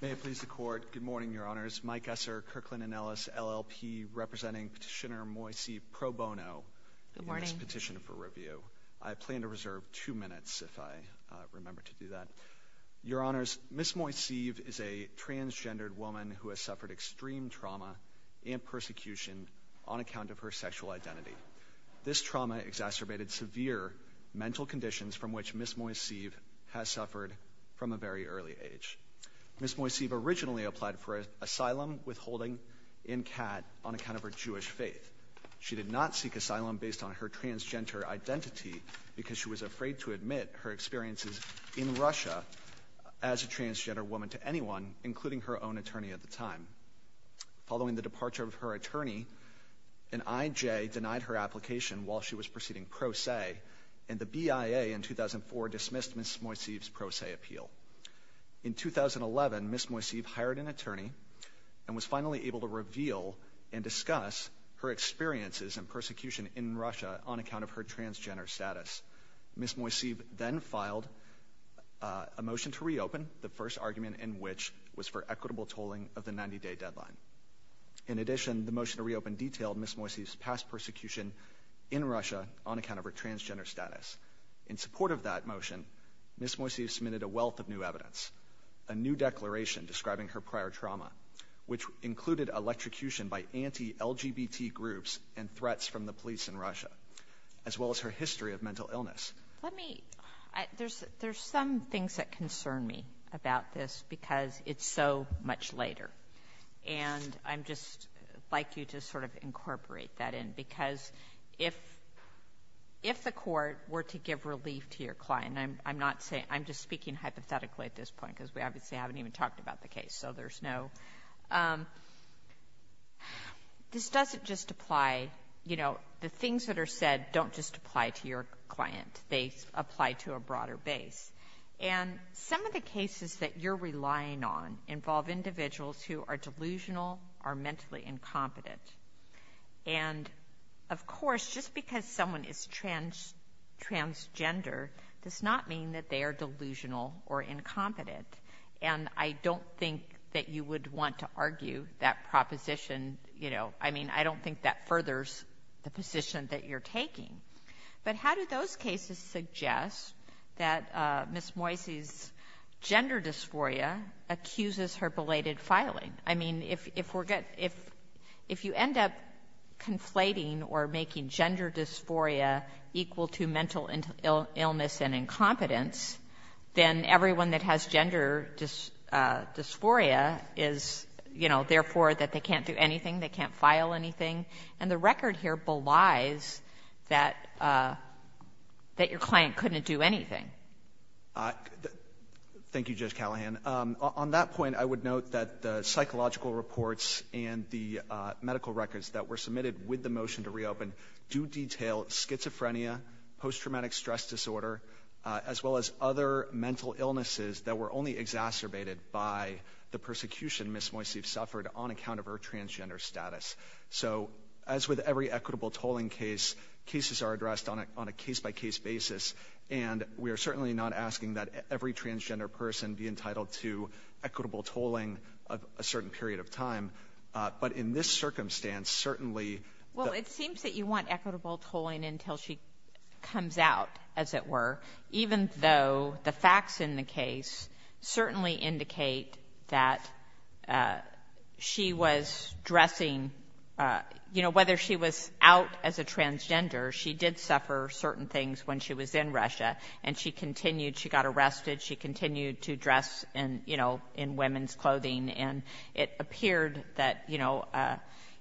May I please the Court? Good morning, Your Honors. Mike Esser, Kirkland & Ellis, LLP, representing Petitioner Moiseev pro bono in this petition for review. I plan to reserve two minutes, if I remember to do that. Your Honors, Ms. Moiseev is a transgendered woman who has suffered extreme trauma and persecution on account of her sexual identity. This trauma exacerbated severe mental conditions from which Ms. Moiseev has suffered from a very early age. Ms. Moiseev originally applied for asylum withholding in Kat on account of her Jewish faith. She did not seek asylum based on her transgender identity because she was afraid to admit her experiences in Russia as a transgender woman to anyone, including her own attorney at the time. Following the departure of her attorney, an IJ denied her proceeding pro se, and the BIA in 2004 dismissed Ms. Moiseev's pro se appeal. In 2011, Ms. Moiseev hired an attorney and was finally able to reveal and discuss her experiences and persecution in Russia on account of her transgender status. Ms. Moiseev then filed a motion to reopen, the first argument in which was for equitable tolling of the 90-day on account of her transgender status. In support of that motion, Ms. Moiseev submitted a wealth of new evidence, a new declaration describing her prior trauma, which included electrocution by anti-LGBT groups and threats from the police in Russia, as well as her history of mental illness. Let me, there's some things that concern me about this because it's so much later, and I'd just like you to sort of incorporate that in, because if the court were to give relief to your client, and I'm not saying, I'm just speaking hypothetically at this point because we obviously haven't even talked about the case, so there's no, this doesn't just apply, you know, the things that are said don't just apply to your client. They apply to a broader base, and some of the cases that you're relying on involve individuals who are delusional or mentally incompetent, and of course, just because someone is transgender does not mean that they are delusional or incompetent, and I don't think that you would want to argue that proposition, you know, I mean, I don't think that furthers the position that you're making that Ms. Moisey's gender dysphoria accuses her belated filing. I mean, if you end up conflating or making gender dysphoria equal to mental illness and incompetence, then everyone that has gender dysphoria is, you know, therefore that they can't do anything, they can't file anything, and the record here belies that your client couldn't do anything. Thank you, Judge Callahan. On that point, I would note that the psychological reports and the medical records that were submitted with the motion to reopen do detail schizophrenia, post-traumatic stress disorder, as well as other mental illnesses that were only exacerbated by the persecution Ms. Moisey suffered on account of her transgender status. So, as with every equitable tolling case, cases are addressed on a case-by-case basis, and we are certainly not asking that every transgender person be entitled to equitable tolling of a certain period of time. But in this circumstance, certainly the — Well, it seems that you want equitable tolling until she comes out, as it were, even though the facts in the case certainly indicate that she was dressing — you know, whether she was out as a transgender, she did suffer certain things when she was in Russia, and she continued — she got arrested, she continued to dress in, you know, in women's clothing. And it appeared that, you know,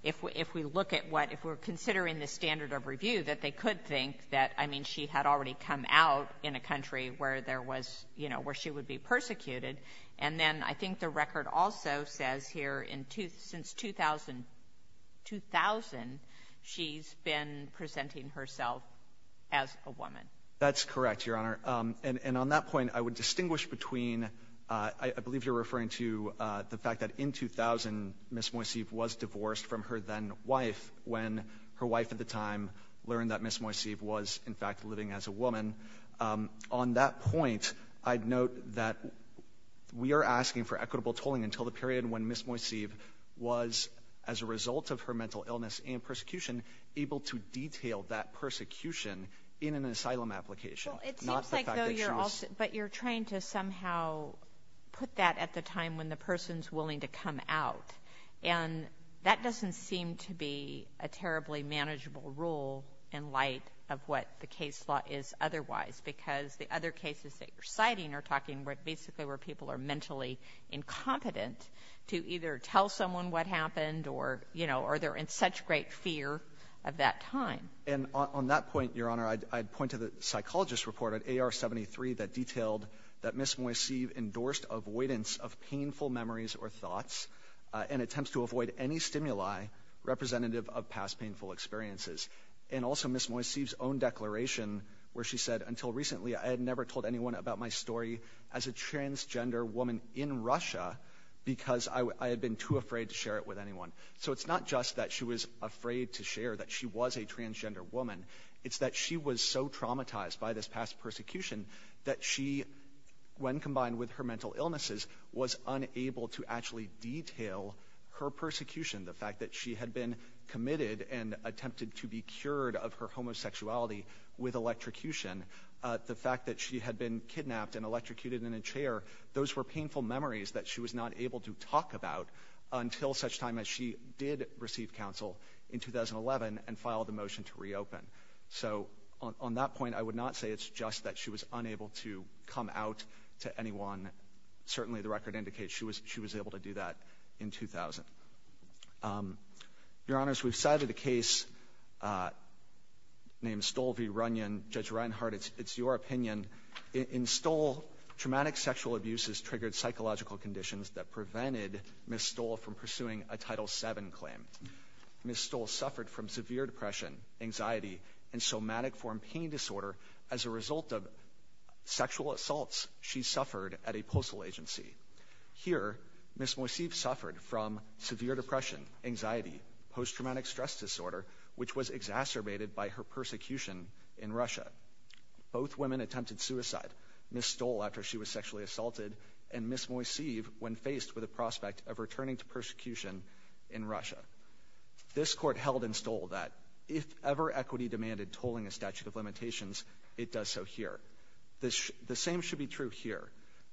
if we look at what — if we're considering the standard of review, that they could think that, I mean, she had already come out in a country where there was — you know, where she would be persecuted. And then I think the record also says here in — since 2000, she's been presenting herself as a woman. That's correct, Your Honor. And on that point, I would distinguish between — I believe you're referring to the fact that in 2000, Ms. Moiseev was divorced from her then-wife when her wife at the time learned that Ms. Moiseev was, in fact, living as a woman. On that point, I'd note that we are asking for equitable tolling until the period when Ms. Moiseev was, as a result of her mental illness and persecution, able to detail that problem application, not the fact that she was — Well, it seems like, though, you're also — but you're trying to somehow put that at the time when the person's willing to come out. And that doesn't seem to be a terribly manageable rule in light of what the case law is otherwise, because the other cases that you're citing are talking basically where people are mentally incompetent to either tell someone what happened or — you know, or they're in such great fear of that time. And on that point, Your Honor, I'd point to the psychologist's report on AR-73 that detailed that Ms. Moiseev endorsed avoidance of painful memories or thoughts and attempts to avoid any stimuli representative of past painful experiences. And also Ms. Moiseev's own declaration where she said, until recently, I had never told anyone about my story as a transgender woman in Russia because I had been too afraid to share it with anyone. So it's not just that she was afraid to share that she was a transgender woman. It's that she was so traumatized by this past persecution that she, when combined with her mental illnesses, was unable to actually detail her persecution, the fact that she had been committed and attempted to be cured of her homosexuality with electrocution, the fact that she had been kidnapped and electrocuted in a chair. Those were painful memories that she was not able to talk about until such time as she did receive counsel in 2011 and filed a motion to reopen. So on that point, I would not say it's just that she was unable to come out to anyone. Certainly, the record indicates she was able to do that in 2000. Your Honors, we've cited a case named Stol v. Runyon. Judge Reinhardt, it's your opinion. In Stol, traumatic sexual abuse has triggered psychological conditions that prevented Ms. Stol from pursuing a Title VII claim. Ms. Stol suffered from severe depression, anxiety, and somatic form pain disorder as a result of sexual assaults she suffered at a postal agency. Here, Ms. Moiseev suffered from severe depression, anxiety, post traumatic stress disorder, which was exacerbated by her persecution in Russia. Both women attempted suicide, Ms. Stol after she was sexually assaulted, and Ms. Moiseev when faced with a prospect of returning to persecution in Russia. This Court held in Stol that if ever equity demanded tolling a statute of limitations, it does so here. The same should be true here.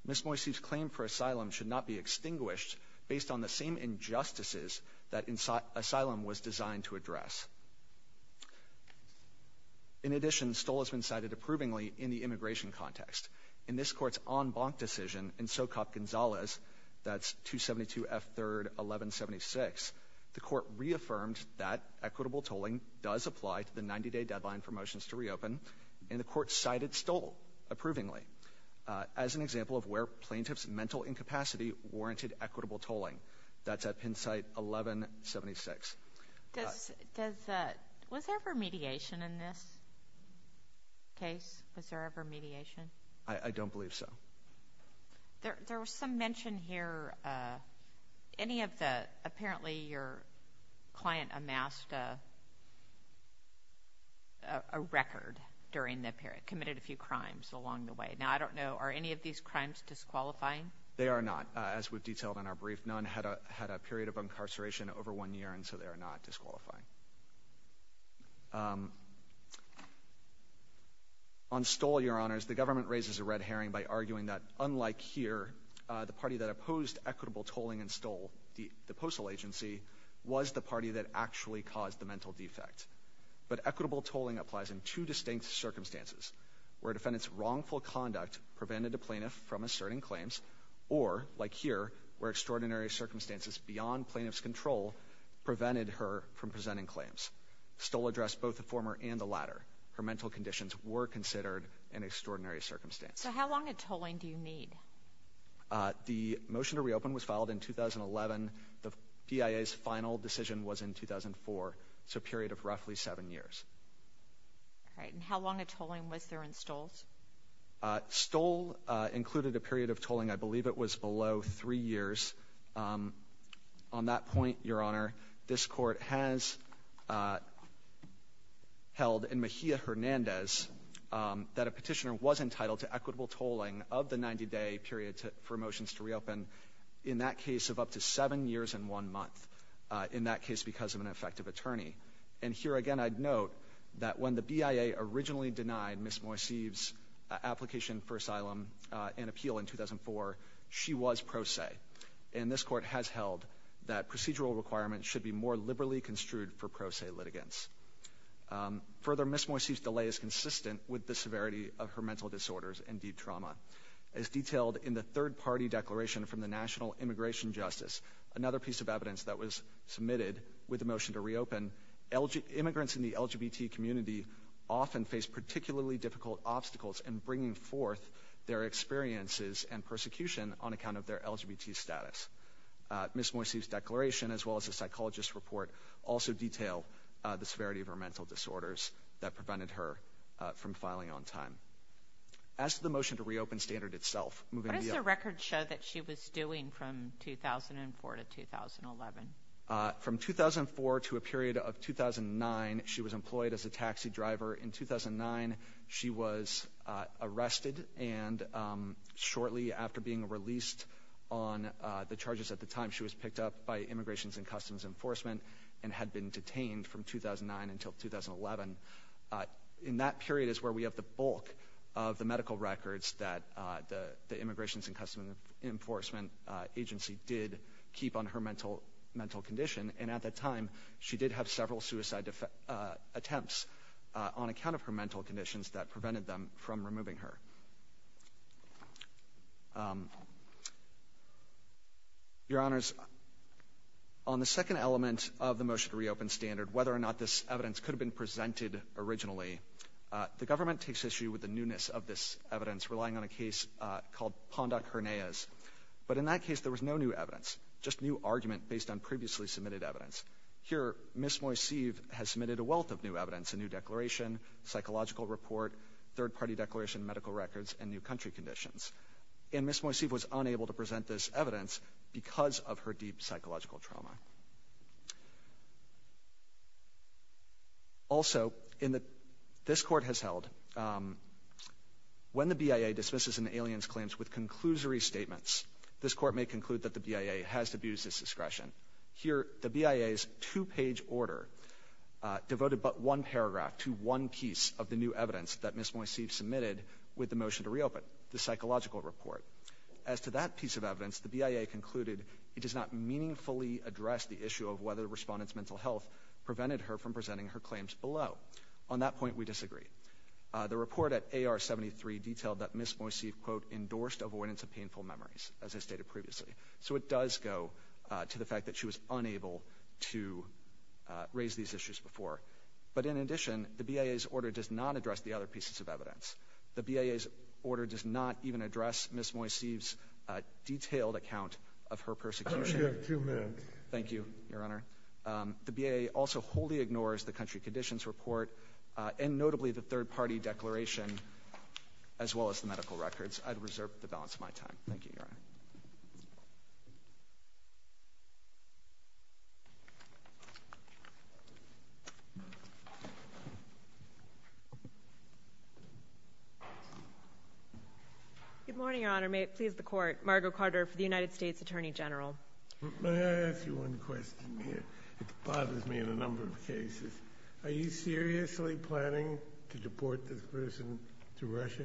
Ms. Moiseev's claim for asylum should not be extinguished based on the same injustices that asylum was designed to In this Court's en banc decision in Socop-Gonzalez, that's 272 F. 3rd 1176, the Court reaffirmed that equitable tolling does apply to the 90-day deadline for motions to reopen, and the Court cited Stol approvingly as an example of where plaintiffs' mental incapacity warranted equitable tolling. That's at Penn site 1176. Was there ever mediation in this case? Was there ever mediation? I don't believe so. There was some mention here, any of the, apparently your client amassed a record during the period, committed a few crimes along the way. Now I don't know, are any of these crimes disqualifying? They are not. As we've detailed in our brief, none had a period of incarceration over one year, and so they are not disqualifying. On Stol, Your Honors, the government raises a red herring by arguing that, unlike here, the party that opposed equitable tolling in Stol, the postal agency, was the party that actually caused the mental defect. But equitable tolling applies in two distinct circumstances, where a defendant's wrongful conduct prevented a plaintiff from asserting claims, or, like here, where extraordinary circumstances beyond plaintiff's control prevented her from presenting claims. Stol addressed both the former and the latter. Her mental conditions were considered an extraordinary circumstance. So how long of tolling do you need? The motion to reopen was filed in 2011. The PIA's final decision was in 2004. It's a period of roughly seven years. All right. And how long of tolling was there in Stol? Stol included a period of tolling, I believe it was below three years. On that point, Your Honor, this Court has held in Mejia-Hernandez that a petitioner was entitled to equitable tolling of the 90-day period for motions to reopen, in that case of up to seven years and one month, in that case because of an effective attorney. And here, again, I'd note that when the BIA originally denied Ms. Moiseev's application for asylum and appeal in 2004, she was pro se. And this Court has held that procedural requirements should be more liberally construed for pro se litigants. Further, Ms. Moiseev's delay is consistent with the severity of her mental disorders and deep trauma. As detailed in the third-party declaration from the National Immigration Justice, another piece of evidence that was submitted with the motion to reopen, immigrants in the LGBT community often face particularly difficult obstacles in bringing forth their experiences and persecution on account of their LGBT status. Ms. Moiseev's declaration, as well as a psychologist's report, also detail the severity of her mental disorders that prevented her from filing on time. As to the motion to reopen standard itself, moving to BIA. What does the record show that she was doing from 2004 to 2011? From 2004 to a period of 2009, she was employed as a taxi driver. In 2009, she was arrested, and shortly after being released on the charges at the time, she was picked up by Immigrations and Customs Enforcement and had been detained from 2009 until 2011. In that period is where we have the bulk of the Immigrations and Customs Enforcement agency did keep on her mental condition, and at that time, she did have several suicide attempts on account of her mental conditions that prevented them from removing her. Your Honors, on the second element of the motion to reopen standard, whether or not this evidence could have been presented originally, the government takes issue with the Pondock-Herneas. But in that case, there was no new evidence, just new argument based on previously submitted evidence. Here, Ms. Moiseev has submitted a wealth of new evidence, a new declaration, psychological report, third-party declaration, medical records, and new country conditions. And Ms. Moiseev was unable to present this evidence because of her deep psychological trauma. Also, this Court has held, when the BIA dismisses an alien's claims with conclusory statements, this Court may conclude that the BIA has abused its discretion. Here, the BIA's two-page order devoted but one paragraph to one piece of the new evidence that Ms. Moiseev submitted with the motion to reopen, the psychological report. As to that piece of evidence, the BIA concluded it does not meaningfully address the issue of whether the Respondent's mental health prevented her from presenting her claims below. On that point, we disagree. The report at AR-73 detailed that Ms. Moiseev, quote, endorsed avoidance of painful memories, as I stated previously. So it does go to the fact that she was unable to raise these issues before. But in addition, the BIA's order does not address the other pieces of evidence. The BIA's order does not even address Ms. Moiseev's of her persecution. You have two minutes. Thank you, Your Honor. The BIA also wholly ignores the country conditions report, and notably the third-party declaration, as well as the medical records. I'd reserve the balance of my time. Thank you, Your Honor. Good morning, Your Honor. May it please the Court, Margo Carter for the United States Attorney General. May I ask you one question here? It bothers me in a number of cases. Are you seriously planning to deport this person to Russia?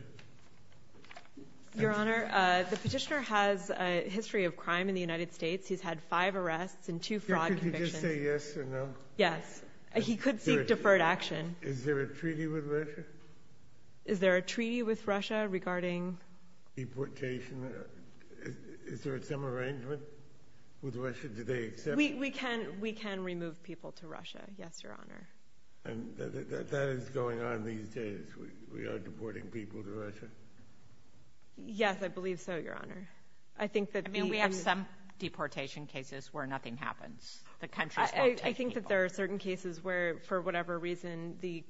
Your Honor, the petitioner has a history of crime in the United States. He's had five arrests and two fraud convictions. Could you just say yes or no? Yes. He could seek deferred action. Is there a treaty with Russia? Is there a treaty with Russia regarding... Deportation? Is there some arrangement with Russia? Do they accept... We can remove people to Russia, yes, Your Honor. And that is going on these days? We are deporting people to Russia? Yes, I believe so, Your Honor. I think that... I mean, we have some deportation cases where nothing happens. The countries won't take people. I think that there are certain cases where, for whatever reason, the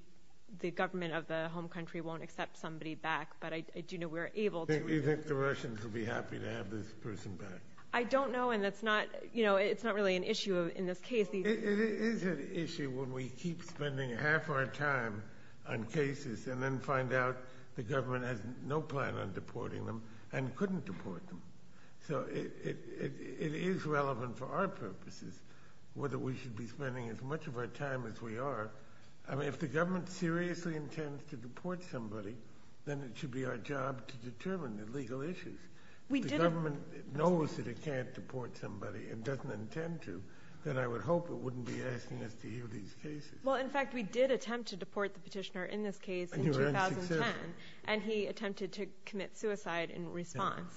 government of the home country won't accept somebody back, but I do know we're able to... Do you think the Russians will be happy to have this person back? I don't know, and it's not really an issue in this case. It is an issue when we keep spending half our time on cases and then find out the government has no plan on deporting them and couldn't deport them. So it is relevant for our purposes whether we should be spending as much of our time as we are. I mean, if the government seriously intends to deport somebody, then it should be our job to determine the legal issues. We didn't... Then I would hope it wouldn't be asking us to hear these cases. Well, in fact, we did attempt to deport the petitioner in this case in 2010, and he attempted to commit suicide in response.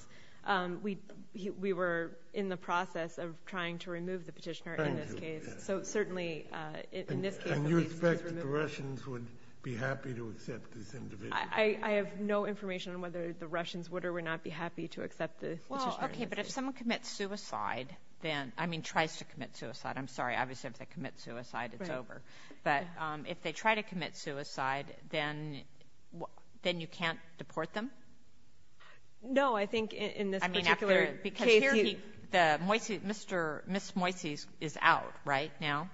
We were in the process of trying to remove the petitioner in this case. So certainly, in this case... And you expect that the Russians would be happy to accept this individual? I have no information on whether the Russians would or would not be happy to accept the... Well, okay, but if someone commits suicide, then... I mean, tries to commit suicide. I'm sorry. Obviously, if they commit suicide, it's over. But if they try to commit suicide, then you can't deport them? No, I think in this particular case... I mean, because here he... Ms. Moisey is out, right, now?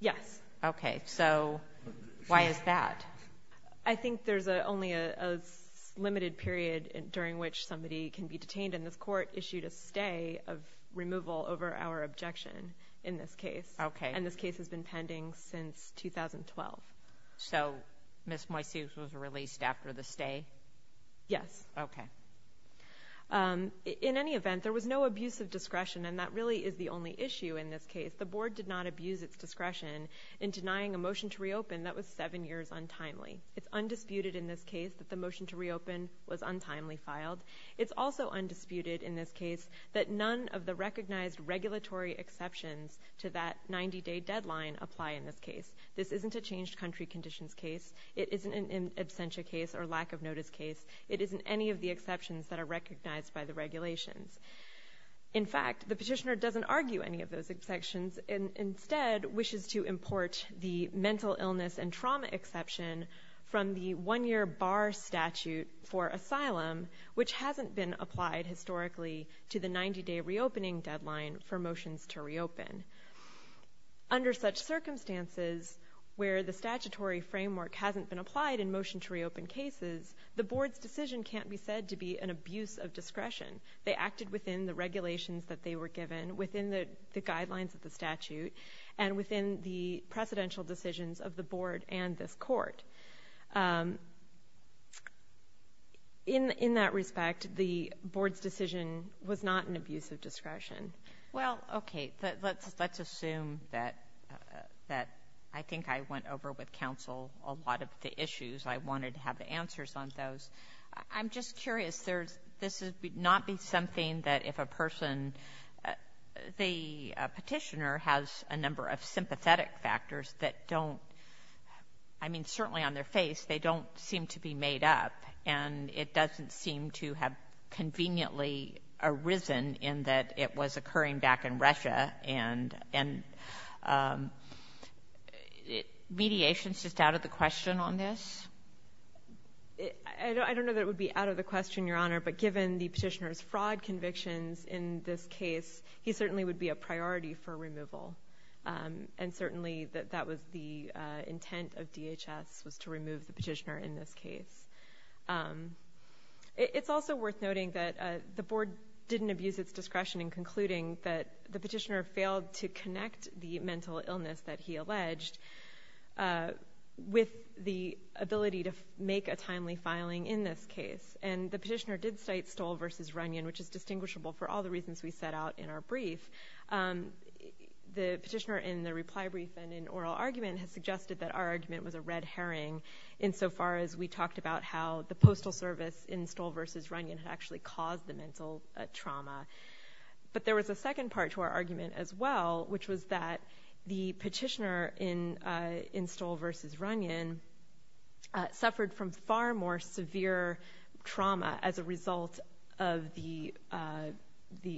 Yes. Okay. So why is that? I think there's only a limited period during which somebody can be detained, and this court issued a stay of removal over our objection in this case. Okay. And this case has been pending since 2012. So Ms. Moisey was released after the stay? Yes. Okay. In any event, there was no abuse of discretion, and that really is the only issue in this case. The board did not abuse its discretion in denying a motion to reopen that was seven years untimely. It's undisputed in this case that the motion to reopen was untimely filed. It's also undisputed in this case that none of the recognized regulatory exceptions to that 90-day deadline apply in this case. This isn't a changed country conditions case. It isn't an absentia case or lack of notice case. It isn't any of the exceptions that are recognized by the regulations. In fact, the petitioner doesn't argue any of those exceptions and instead wishes to import the mental illness and trauma exception from the one-year bar statute for asylum, which hasn't been applied historically to the 90-day reopening deadline for motions to reopen. Under such circumstances where the statutory framework hasn't been applied in motion to reopen cases, the board's decision can't be said to be an abuse of statute and within the presidential decisions of the board and this court. In that respect, the board's decision was not an abuse of discretion. Well, okay. Let's assume that I think I went over with counsel a lot of the issues. I wanted to have the answers on those. I'm just curious. This would not be something that if a person, the petitioner has a number of sympathetic factors that don't – I mean, certainly on their face, they don't seem to be made up, and it doesn't seem to have conveniently arisen in that it was occurring back in Russia, and mediation is just out of the question on this? I don't know that it would be out of the question, Your Honor, but given the petitioner's fraud convictions in this case, he certainly would be a priority for removal, and certainly that was the intent of DHS, was to remove the petitioner in this case. It's also worth noting that the board didn't abuse its discretion in concluding that the petitioner failed to connect the mental illness that he alleged with the ability to make a timely filing in this case, and the petitioner did cite Stoll v. Runyon, which is distinguishable for all the reasons we set out in our brief. The petitioner in the reply brief and in oral argument has suggested that our argument was a red herring insofar as we talked about how the postal service in Stoll v. Runyon had actually caused the mental trauma, but there was a second part to our argument as well, which was that the petitioner in Stoll v. Runyon suffered from far more severe trauma as a result of the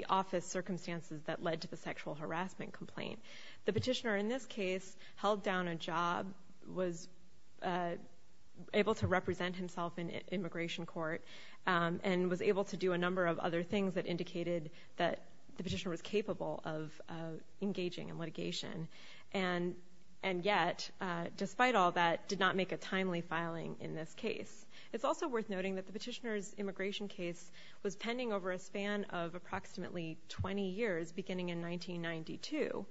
office circumstances that led to the sexual harassment complaint. The petitioner in this case held down a job, was able to represent himself in immigration court, and was able to do a number of other things that indicated that the petitioner was capable of engaging in litigation, and yet, despite all that, did not make a timely filing in this case. It's also worth noting that the petitioner's immigration case was pending over a span of approximately 20 years, beginning in 1992,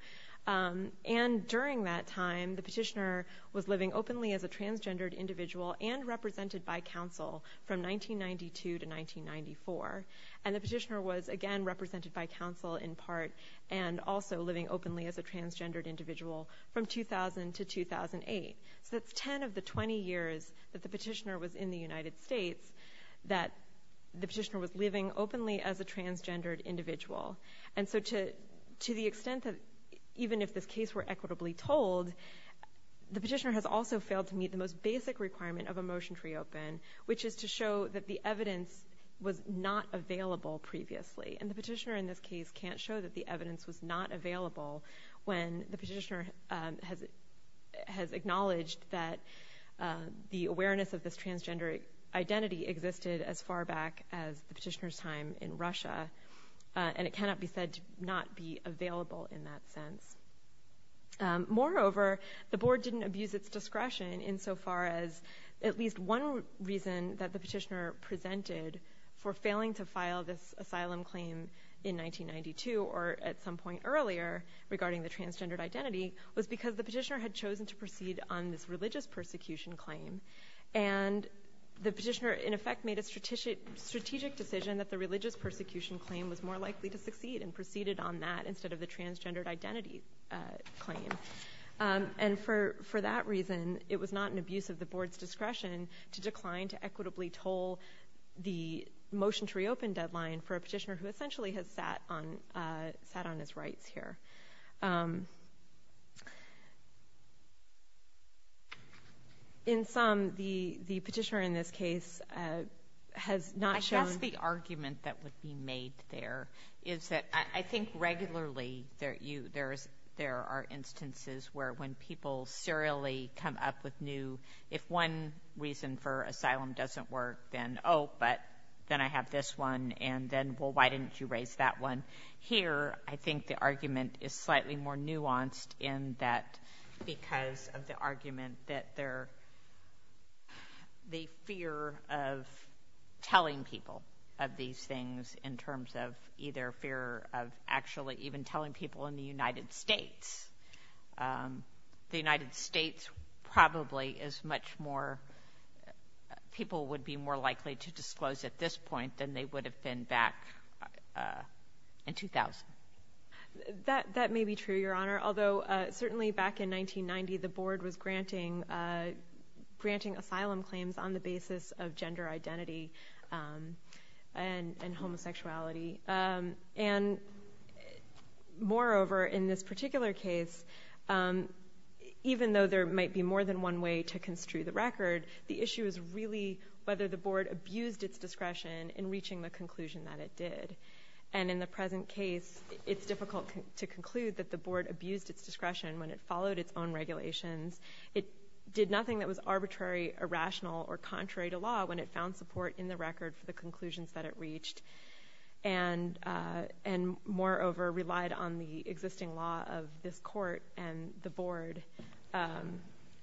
and during that time, the petitioner was living openly as a transgendered individual and represented by counsel from 1992 to 1994, and the petitioner was, again, represented by counsel in part, and also living openly as a transgendered individual from 2000 to 2008. So it's 10 of the 20 years that the petitioner was in the United States that the petitioner was living openly as a transgendered individual. And so to the extent that, even if this case were equitably told, the petitioner has also failed to meet the most basic requirement of a motion to reopen, which is to show that the evidence was not available previously, and the petitioner in this case can't show that the evidence was not available when the petitioner has acknowledged that the awareness of this transgender identity existed as far back as the petitioner's time in Russia, and it cannot be said to not be available in that sense. Moreover, the board didn't abuse its discretion insofar as at least one reason that the petitioner presented for failing to file this asylum claim in 1992 or at some point earlier regarding the transgendered identity was because the petitioner had chosen to proceed on this religious persecution claim, and the petitioner, in effect, made a strategic decision that the religious persecution claim was more likely to succeed and proceeded on that instead of the transgendered identity claim. And for that reason, it was not an equitably told the motion to reopen deadline for a petitioner who essentially has sat on his rights here. In sum, the petitioner in this case has not shown... I guess the argument that would be made there is that I think regularly there are instances where when people serially come up with new... If one reason for asylum doesn't work, then, oh, but then I have this one, and then, well, why didn't you raise that one? Here, I think the argument is slightly more nuanced in that because of the argument that they're... The fear of telling people of these things in terms of either fear of actually even telling people in the United States. The United States probably is much more... People would be more likely to disclose at this point than they would have been back in 2000. That may be true, Your Honor, although certainly back in 1990, the board was granting asylum claims on the basis of gender identity and homosexuality. And more recently, I think moreover in this particular case, even though there might be more than one way to construe the record, the issue is really whether the board abused its discretion in reaching the conclusion that it did. And in the present case, it's difficult to conclude that the board abused its discretion when it followed its own regulations. It did nothing that was arbitrary, irrational, or contrary to law when it found support in the record for the existing law of this court and the board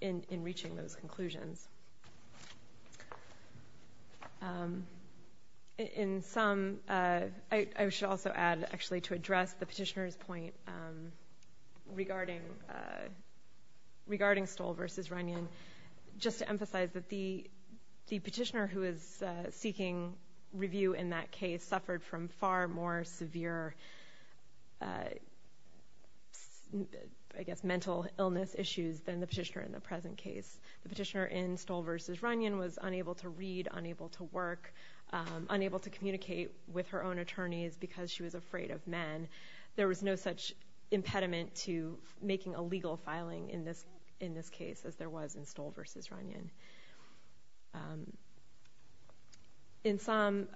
in reaching those conclusions. In some... I should also add, actually, to address the petitioner's point regarding Stoll versus Runyon, just to emphasize that the petitioner who is seeking review in that case suffered from far more severe, I guess, mental illness issues than the petitioner in the present case. The petitioner in Stoll versus Runyon was unable to read, unable to work, unable to communicate with her own attorneys because she was afraid of men. There was no such impediment to making a legal filing in this case as there was in Stoll versus Runyon. In sum,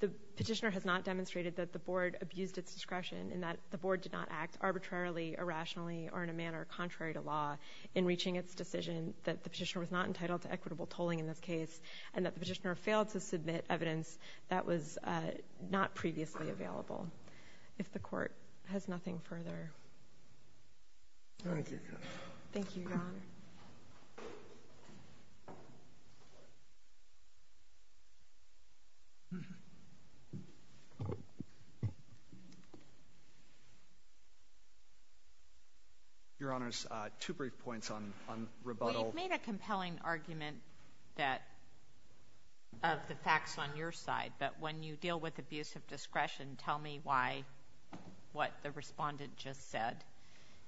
the petitioner has not demonstrated that the board abused its discretion and that the board did not act arbitrarily, irrationally, or in a manner contrary to law in reaching its decision that the petitioner was not entitled to equitable tolling in this case and that the petitioner failed to submit evidence that was not previously available. If the court has nothing further. Thank you. Thank you, Your Honor. Your Honor, two brief points on rebuttal. Well, you've made a compelling argument of the facts on your side, but when you deal with abuse of discretion, tell me why, what the respondent just said.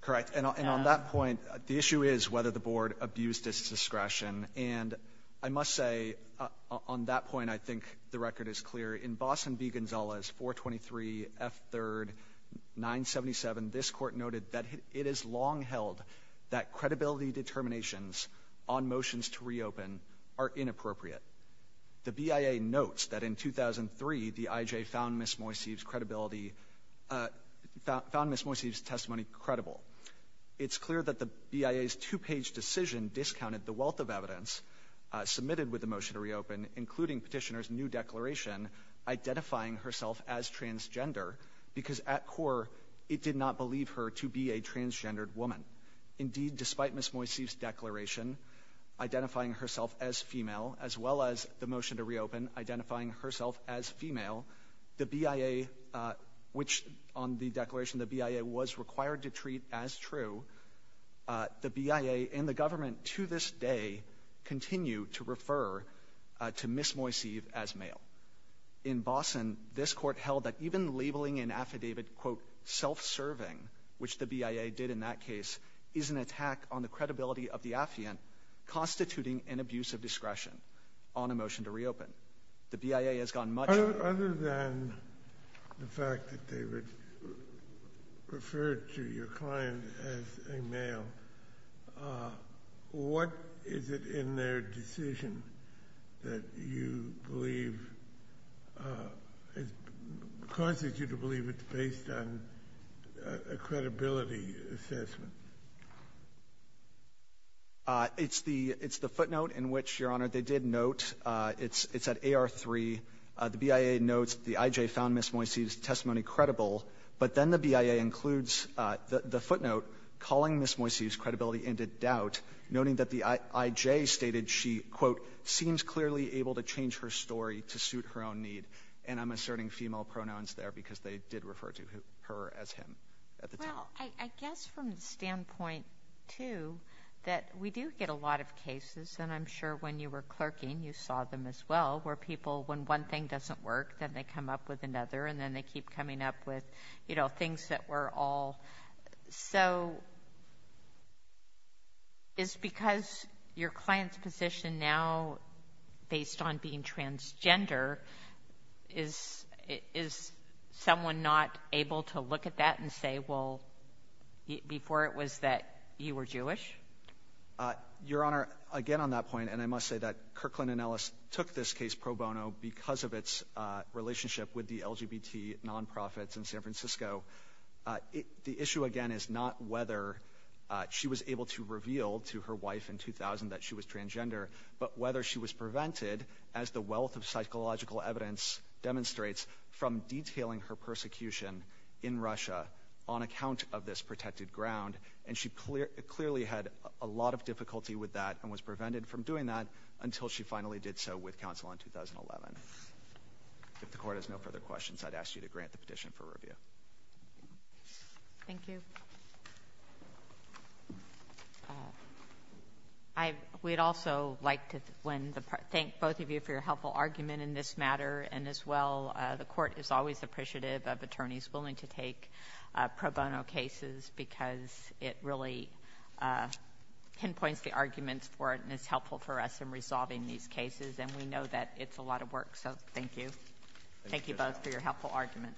Correct. And on that point, the issue is whether the board abused its discretion. And I must say on that point, I think the record is clear. In Boston v. Gonzalez, 423 F. 3rd, 977, this court noted that it is long held that credibility determinations on motions to reopen are inappropriate. The BIA notes that in 2003, the I.J. found Ms. Moiseev's credibility, found Ms. Moiseev's credibility credible. It's clear that the BIA's two-page decision discounted the wealth of evidence submitted with the motion to reopen, including petitioner's new declaration identifying herself as transgender, because at core, it did not believe her to be a transgendered woman. Indeed, despite Ms. Moiseev's declaration identifying herself as female, as well as the motion to reopen identifying herself as female, the BIA, which on the declaration the BIA was required to treat as true, the BIA and the government to this day continue to refer to Ms. Moiseev as male. In Boston, this Court held that even labeling an affidavit, quote, self-serving, which the BIA did in that case, is an attack on the credibility of the affiant constituting an abuse of discretion on a motion to reopen. The BIA has gone much Other than the fact that they would refer to your client as a male, what is it in their decision that you believe, causes you to believe it's based on a credibility assessment? It's the footnote in which, Your Honor, they did note, it's at AR3, the BIA notes that the IJ found Ms. Moiseev's testimony credible, but then the BIA includes the footnote calling Ms. Moiseev's credibility into doubt, noting that the IJ stated she, quote, seems clearly able to change her story to suit her own need, and I'm asserting female pronouns there because they did refer to her as him at the time. Well, I guess from the standpoint, too, that we do get a lot of cases, and I'm sure when you were clerking, you saw them as well, where people, when one thing doesn't work, then they come up with another, and then they keep coming up with, you know, things that were all, so, is because your client's position now, based on being transgender, is someone not able to look at that and say, well, before it was that you were Jewish? Your Honor, again on that point, and I must say that Kirkland & Ellis took this case pro bono because of its relationship with the LGBT nonprofits in San Francisco. The issue, again, is not whether she was able to reveal to her wife in 2000 that she was transgender, but whether she was prevented, as the wealth of psychological evidence demonstrates, from detailing her persecution in Russia on account of this protected ground, and she clearly had a lot of difficulty with that and was prevented from doing that until she finally did so with counsel in 2011. If the Court has no further questions, I'd ask you to grant the petition for review. Thank you. I would also like to thank both of you for your helpful argument in this matter, and as well, the Court is always appreciative of attorneys willing to take pro bono cases because it really pinpoints the arguments for it, and it's helpful for us in resolving these cases, and we know that it's a lot of work, so thank you. Thank you both for your helpful argument.